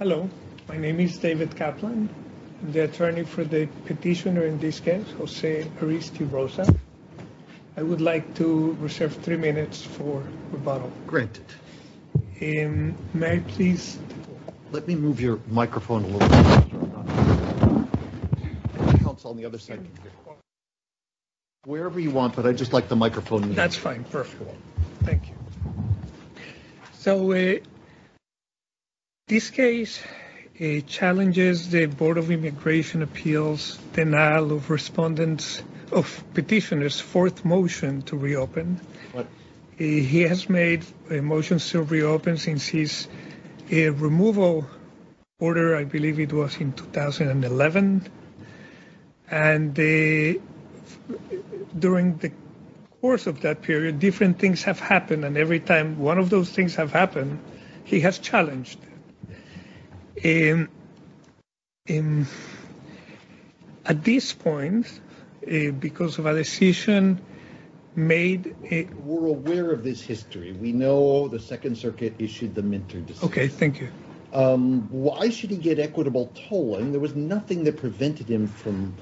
Hello, my name is David Kaplan, the attorney for the petitioner in this case, Jose Aristy-Rosa. I would like to reserve three minutes for rebuttal. May I please? Let me move your microphone a little bit. Wherever you want, but I just like the microphone. That's fine, perfect. Thank you. So, this case challenges the Board of Immigration Appeals denial of petitioner's fourth motion to reopen. What? He has made a motion to reopen since his removal order, I believe it was in 2011. And during the course of that period, different things have happened. And every time one of those things have happened, he has challenged. At this point, because of a decision made... We're aware of this history. We know the Second Circuit issued the Minter decision. Okay, thank you. Why should he get equitable tolling? There was nothing that prevented him from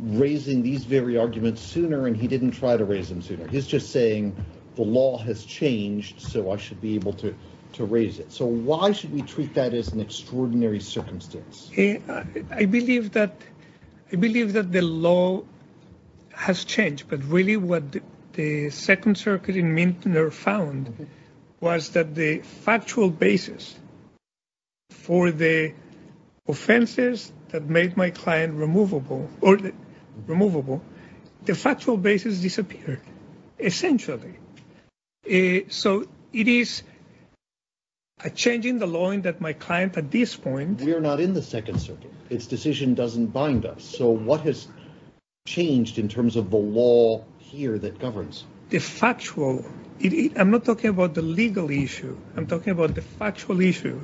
raising these very arguments sooner, and he didn't try to raise them sooner. He's just saying the law has changed, so I should be able to raise it. So, why should we treat that as an extraordinary circumstance? I believe that the law has changed. But really, what the Second Circuit in Minter found was that the factual basis for the offenses that made my client removable, the factual basis disappeared, essentially. So, it is a change in the law that my client at this point... We are not in the Second Circuit. Its decision doesn't bind us. So, what has changed in terms of the law here that governs? The factual... I'm not talking about the legal issue. I'm talking about the factual issue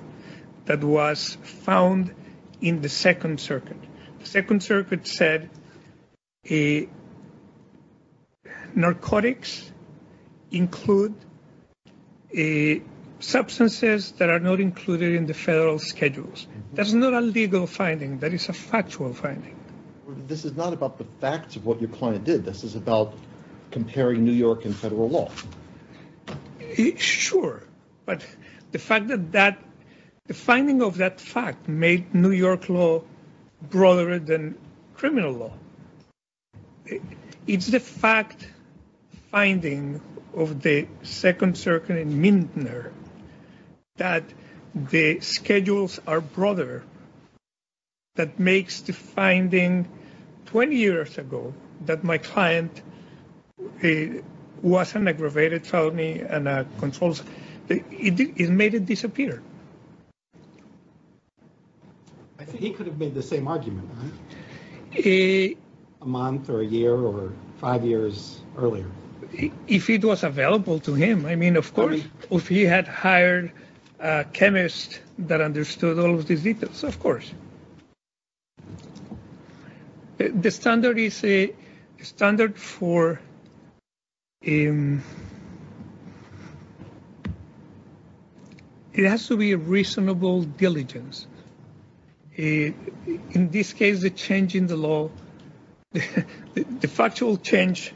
that was found in the Second Circuit. The Second Circuit said narcotics include substances that are not included in the federal schedules. That's not a legal finding. That is a factual finding. This is not about the facts of what your client did. This is about comparing New York and federal law. Sure. But the finding of that fact made New York law broader than criminal law. It's the fact finding of the Second Circuit in Minter that the schedules are broader. That makes the finding 20 years ago that my client was an aggravated felony and controls... It made it disappear. I think he could have made the same argument. A month or a year or five years earlier. If it was available to him, I mean, of course. If he had hired a chemist that understood all of these details, of course. The standard is a standard for... It has to be a reasonable diligence. In this case, the change in the law, the factual change,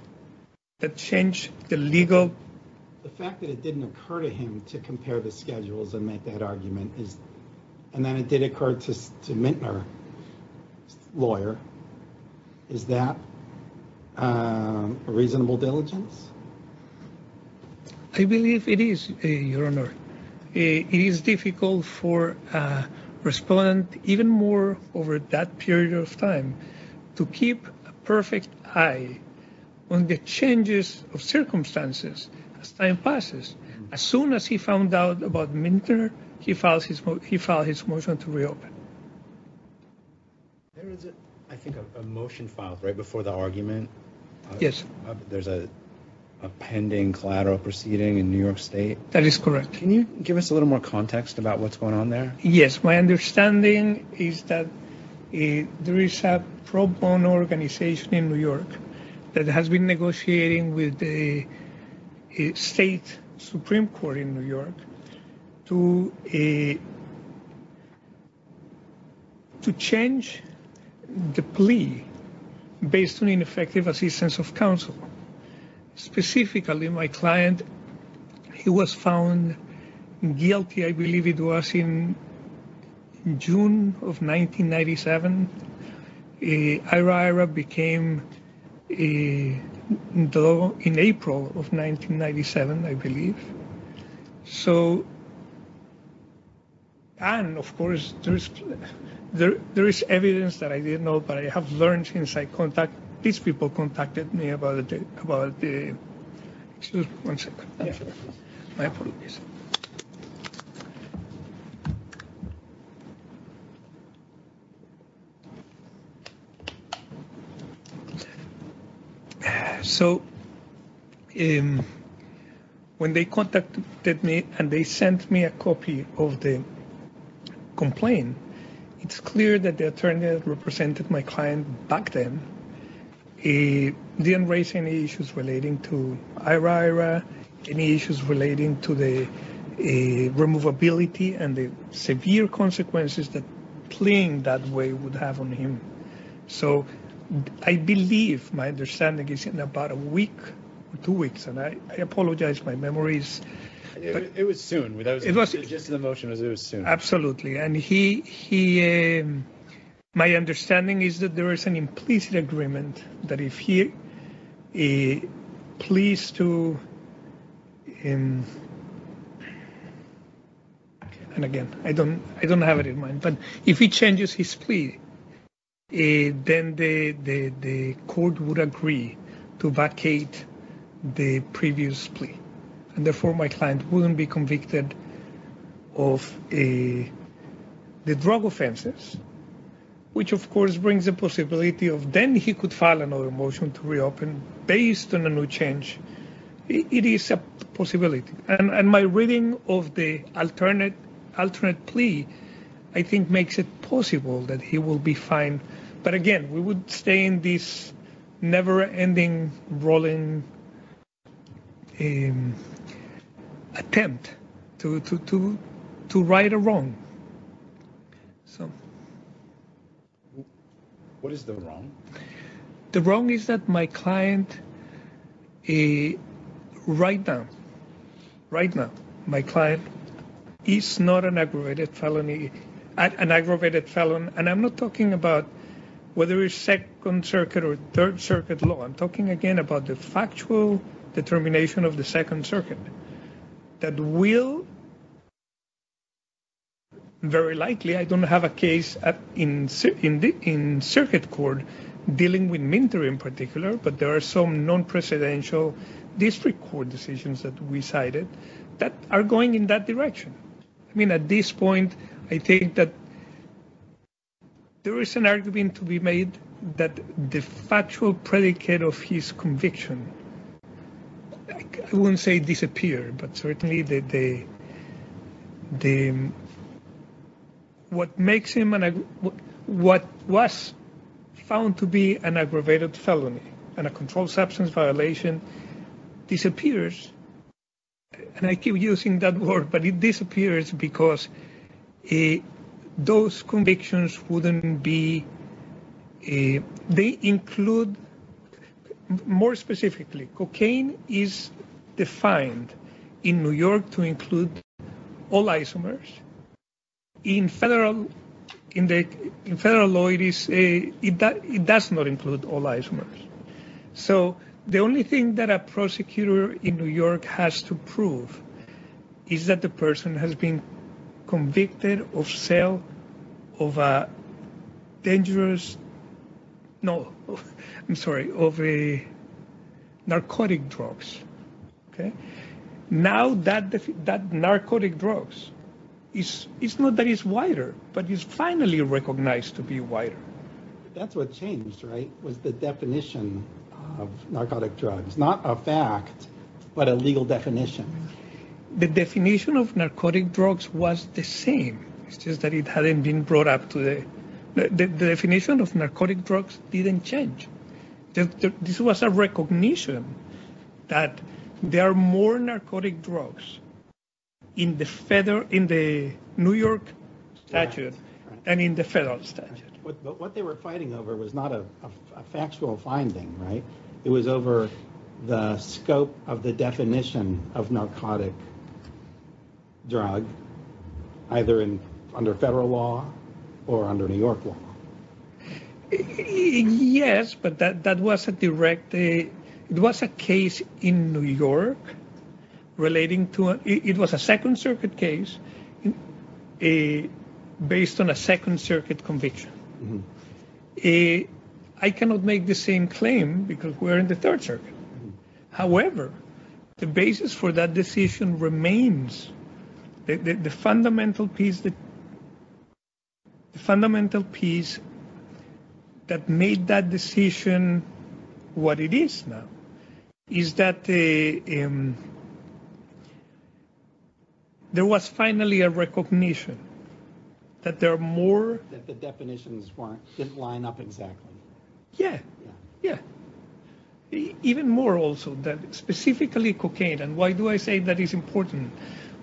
the change, the legal... The fact that it didn't occur to him to compare the schedules and make that argument, and then it did occur to Minter's lawyer, is that a reasonable diligence? I believe it is, Your Honor. It is difficult for a respondent, even more over that period of time, to keep a perfect eye on the changes of circumstances as time passes. As soon as he found out about Minter, he filed his motion to reopen. There is, I think, a motion filed right before the argument. Yes. There's a pending collateral proceeding in New York State. That is correct. Can you give us a little more context about what's going on there? Yes. My understanding is that there is a pro bono organization in New York that has been negotiating with the State Supreme Court in New York to change the plea based on ineffective assistance of counsel. Specifically, my client, he was found guilty, I believe it was in June of 1997. Aira Aira became in April of 1997, I believe. So, and of course, there is evidence that I didn't know, but I have learned since I contacted, these people contacted me about the, excuse me one second, my apologies. So, when they contacted me and they sent me a copy of the complaint, it's clear that the attorney that represented my client back then didn't raise any issues relating to Aira Aira, any issues relating to the removability and the severe consequences that pleaing that way would have on him. So, I believe my understanding is in about a week, two weeks, and I apologize, my memory is... It was soon. Just the motion was it was soon. Absolutely, and he, my understanding is that there is an implicit agreement that if he pleads to, and again, I don't have it in mind, but if he changes his plea, then the court would agree to vacate the previous plea. And therefore, my client wouldn't be convicted of the drug offenses, which of course brings the possibility of then he could file another motion to reopen based on a new change. It is a possibility, and my reading of the alternate plea, I think makes it possible that he will be fined. But again, we would stay in this never-ending rolling attempt to right a wrong. What is the wrong? The wrong is that my client right now, right now, my client is not an aggravated felony, and I'm not talking about whether it's Second Circuit or Third Circuit law, I'm talking again about the factual determination of the Second Circuit that will very likely, I don't have a case in circuit court dealing with Minter in particular, but there are some non-presidential district court decisions that we cited that are going in that direction. I mean, at this point, I think that there is an argument to be made that the factual predicate of his conviction, I wouldn't say disappeared, but certainly what was found to be an aggravated felony and a controlled substance violation disappears, and I keep using that word, but it disappears because those convictions wouldn't be, they include, more specifically, cocaine is defined in New York to include all isomers. In federal law, it does not include all isomers. So the only thing that a prosecutor in New York has to prove is that the person has been convicted of sale of a dangerous, no, I'm sorry, of a narcotic drugs. Now that narcotic drugs, it's not that it's wider, but it's finally recognized to be wider. That's what changed, right, was the definition of narcotic drugs, not a fact, but a legal definition. The definition of narcotic drugs was the same. It's just that it hadn't been brought up today. The definition of narcotic drugs didn't change. This was a recognition that there are more narcotic drugs in the New York statute than in the federal statute. But what they were fighting over was not a factual finding, right? It was over the scope of the definition of narcotic drug, either under federal law or under New York law. Yes, but that was a direct, it was a case in New York relating to, it was a Second Circuit case based on a Second Circuit conviction. I cannot make the same claim because we're in the Third Circuit. However, the basis for that decision remains the fundamental piece that made that decision what it is now. Is that there was finally a recognition that there are more. That the definitions didn't line up exactly. Yeah, yeah. Even more also that specifically cocaine, and why do I say that is important?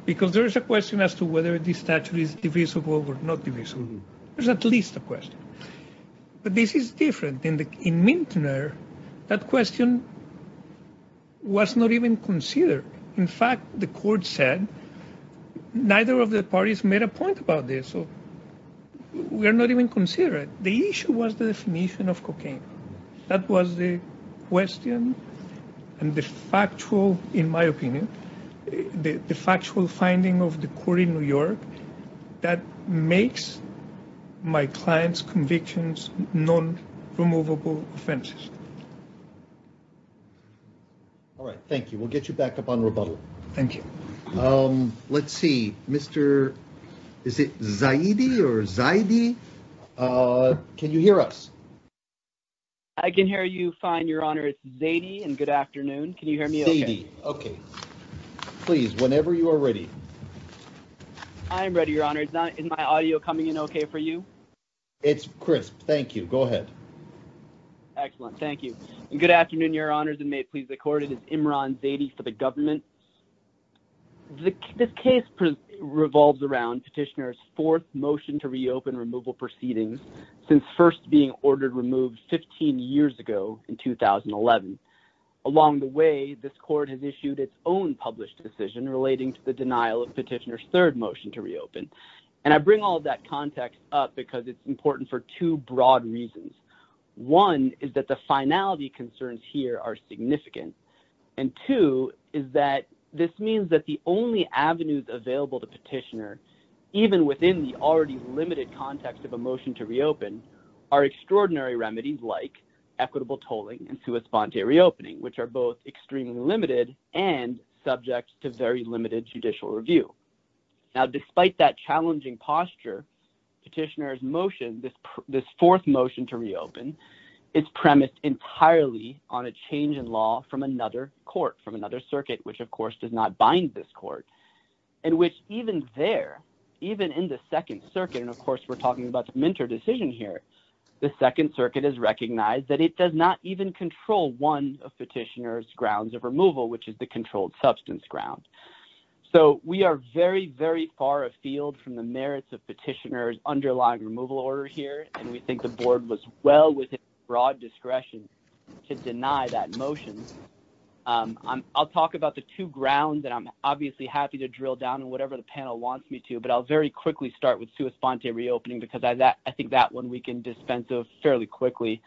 Because there is a question as to whether this statute is divisible or not divisible. There's at least a question. But this is different. In Minter, that question was not even considered. In fact, the court said neither of the parties made a point about this. We are not even considering it. The issue was the definition of cocaine. That was the question and the factual, in my opinion, the factual finding of the court in New York that makes my client's convictions non-removable offenses. All right. Thank you. We'll get you back up on rebuttal. Thank you. Let's see, Mr. Is it Zaidi or Zaidi? Can you hear us? I can hear you fine, Your Honor. It's Zaidi and good afternoon. Can you hear me okay? Okay. Please, whenever you are ready. I am ready, Your Honor. Is my audio coming in okay for you? It's crisp. Thank you. Go ahead. Excellent. Thank you. Good afternoon, Your Honors, and may it please the court. It is Imran Zaidi for the government. This case revolves around Petitioner's fourth motion to reopen removal proceedings since first being ordered removed 15 years ago in 2011. Along the way, this court has issued its own published decision relating to the denial of Petitioner's third motion to reopen, and I bring all of that context up because it's important for two broad reasons. One is that the finality concerns here are significant, and two is that this means that the only avenues available to Petitioner, even within the already limited context of a motion to reopen, are extraordinary remedies like equitable tolling and sui sponte reopening, which are both extremely limited and subject to very limited judicial review. Now, despite that challenging posture, Petitioner's motion, this fourth motion to reopen, is premised entirely on a change in law from another court, from another circuit, which, of course, does not bind this court, in which even there, even in the Second Circuit, and, of course, we're talking about the Minter decision here, the Second Circuit has recognized that it does not even control one of Petitioner's grounds of removal, which is the controlled substance ground. So we are very, very far afield from the merits of Petitioner's underlying removal order here, and we think the board was well within broad discretion to deny that motion. I'll talk about the two grounds that I'm obviously happy to drill down on, whatever the panel wants me to, but I'll very quickly start with sui sponte reopening because I think that one we can dispense of fairly quickly.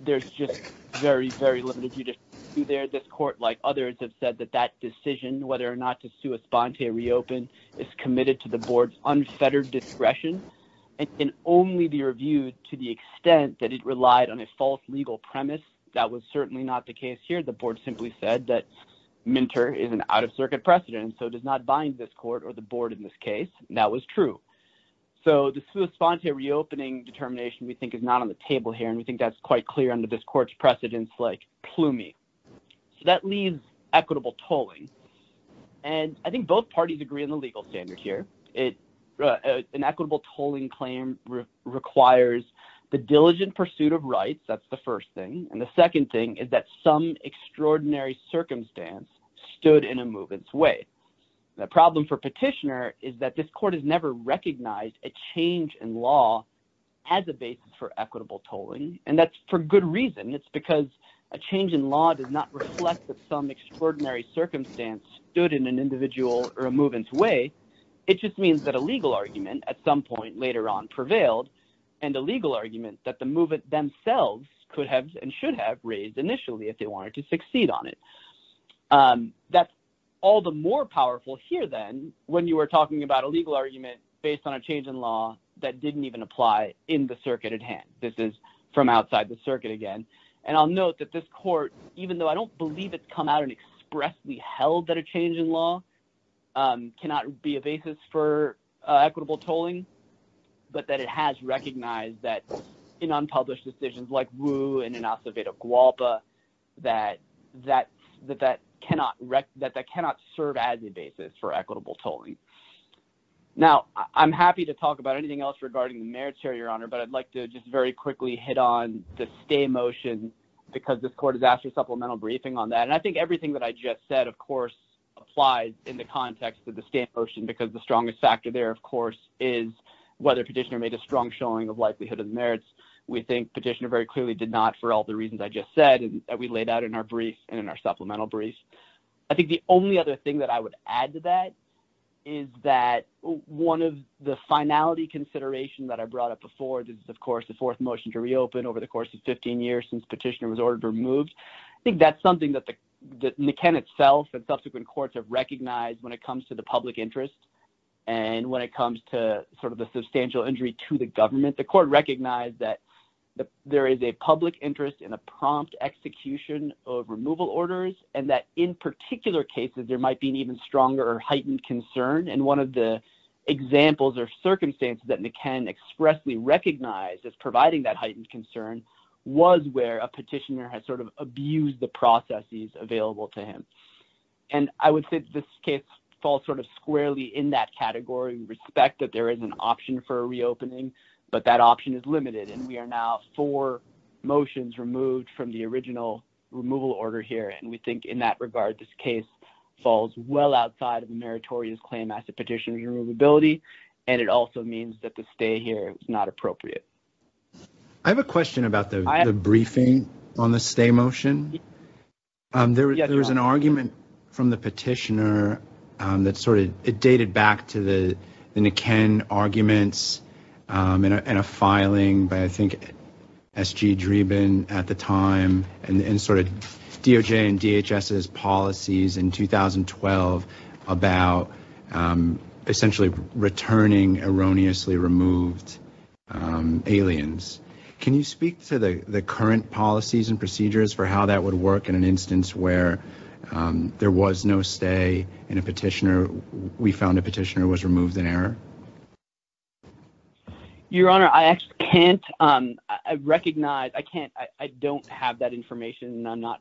There's just very, very limited judicial review there. This court, like others, has said that that decision, whether or not to sui sponte reopen, is committed to the board's unfettered discretion and can only be reviewed to the extent that it relied on a false legal premise. That was certainly not the case here. The board simply said that Minter is an out-of-circuit precedent and so does not bind this court or the board in this case, and that was true. So the sui sponte reopening determination, we think, is not on the table here, and we think that's quite clear under this court's precedents like Plumie. So that leaves equitable tolling, and I think both parties agree on the legal standard here. An equitable tolling claim requires the diligent pursuit of rights, that's the first thing, and the second thing is that some extraordinary circumstance stood in a movement's way. The problem for Petitioner is that this court has never recognized a change in law as a basis for equitable tolling, and that's for good reason. It's because a change in law does not reflect that some extraordinary circumstance stood in an individual or a movement's way. It just means that a legal argument at some point later on prevailed and a legal argument that the movement themselves could have and should have raised initially if they wanted to succeed on it. That's all the more powerful here then when you were talking about a legal argument based on a change in law that didn't even apply in the circuit at hand. This is from outside the circuit again, and I'll note that this court, even though I don't believe it's come out and expressly held that a change in law cannot be a basis for equitable tolling, but that it has recognized that in unpublished decisions like Wu and in Acevedo-Gualpa that that cannot serve as a basis for equitable tolling. Now, I'm happy to talk about anything else regarding the merits here, Your Honor, but I'd like to just very quickly hit on the stay motion because this court has asked for a supplemental briefing on that, and I think everything that I just said, of course, applies in the context of the stay motion because the strongest factor there, of course, is whether Petitioner made a strong showing of likelihood of the merits. We think Petitioner very clearly did not for all the reasons I just said that we laid out in our brief and in our supplemental brief. I think the only other thing that I would add to that is that one of the finality considerations that I brought up before is, of course, the fourth motion to reopen over the course of 15 years since Petitioner was ordered removed. I think that's something that the NICEN itself and subsequent courts have recognized when it comes to the public interest and when it comes to sort of the substantial injury to the government, the court recognized that there is a public interest in a prompt execution of removal orders and that in particular cases there might be an even stronger or heightened concern, and one of the examples or circumstances that NICEN expressly recognized as providing that heightened concern was where a petitioner had sort of abused the processes available to him, and I would say this case falls sort of squarely in that category in respect that there is an option for reopening, but that option is limited, and we are now four motions removed from the original removal order here, and we think in that regard this case falls well outside of the meritorious claim as to Petitioner's removability, and it also means that the stay here is not appropriate. I have a question about the briefing on the stay motion. There was an argument from the petitioner that sort of dated back to the NICEN arguments and a filing by I think S.G. Dreeben at the time and sort of DOJ and DHS's policies in 2012 about essentially returning erroneously removed aliens. Can you speak to the current policies and procedures for how that would work in an instance where there was no stay and a petitioner, we found a petitioner was removed in error? Your Honor, I actually can't recognize, I don't have that information, and I'm not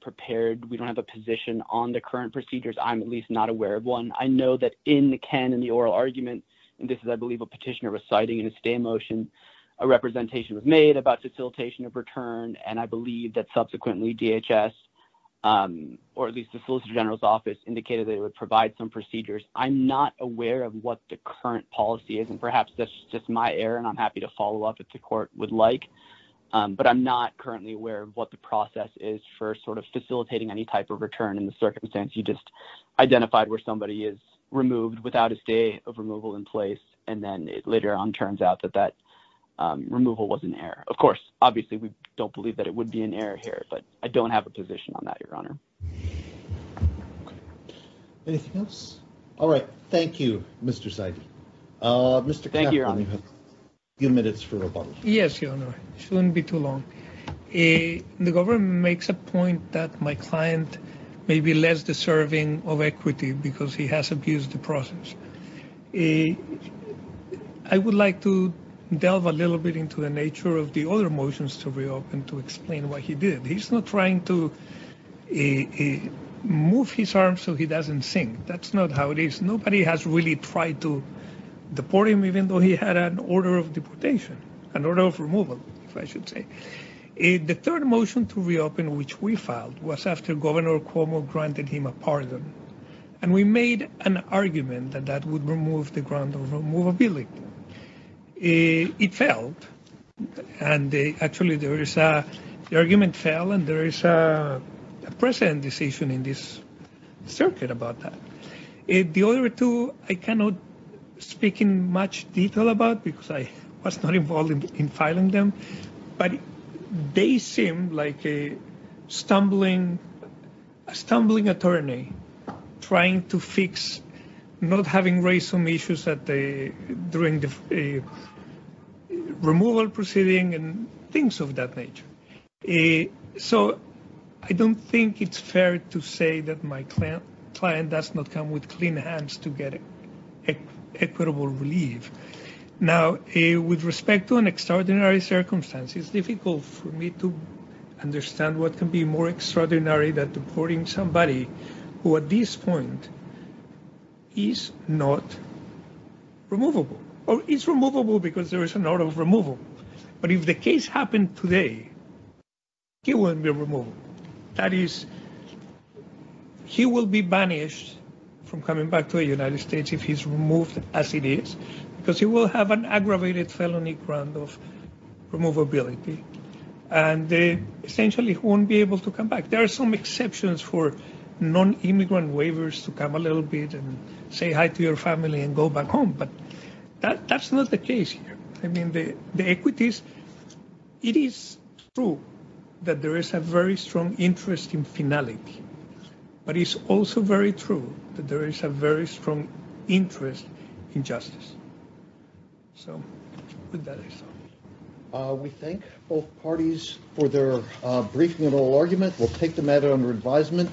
prepared. We don't have a position on the current procedures. I'm at least not aware of one. I know that in the NICEN and the oral argument, and this is I believe a petitioner reciting a stay motion, a representation was made about facilitation of return, and I believe that subsequently DHS or at least the Solicitor General's office indicated they would provide some procedures. I'm not aware of what the current policy is, and perhaps that's just my error, and I'm happy to follow up if the court would like, but I'm not currently aware of what the process is for sort of facilitating any type of return in the circumstance you just identified where somebody is removed without a stay of removal in place, and then it later on turns out that that removal was an error. Of course, obviously, we don't believe that it would be an error here, but I don't have a position on that, Your Honor. Anything else? All right. Thank you, Mr. Saidi. Thank you, Your Honor. A few minutes for rebuttal. Yes, Your Honor. It shouldn't be too long. The government makes a point that my client may be less deserving of equity because he has abused the process. I would like to delve a little bit into the nature of the other motions to reopen to explain what he did. He's not trying to move his arm so he doesn't sink. That's not how it is. Nobody has really tried to deport him, even though he had an order of deportation, an order of removal, I should say. The third motion to reopen, which we filed, was after Governor Cuomo granted him a pardon, and we made an argument that that would remove the grant of removability. It failed, and actually the argument failed, and there is a present decision in this circuit about that. The other two I cannot speak in much detail about because I was not involved in filing them, but they seem like a stumbling attorney trying to fix not having raised some issues during the removal proceeding and things of that nature. So I don't think it's fair to say that my client does not come with clean hands to get equitable relief. Now, with respect to an extraordinary circumstance, it's difficult for me to understand what can be more extraordinary than deporting somebody who at this point is not removable, or is removable because there is an order of removal. But if the case happened today, he wouldn't be removed. That is, he will be banished from coming back to the United States if he's removed as it is because he will have an aggravated felony grant of removability, and they essentially won't be able to come back. There are some exceptions for non-immigrant waivers to come a little bit and say hi to your family and go back home, but that's not the case here. I mean, the equities, it is true that there is a very strong interest in finality, but it's also very true that there is a very strong interest in justice. So with that, I stop. We thank both parties for their briefing and oral argument. We'll take the matter under advisement.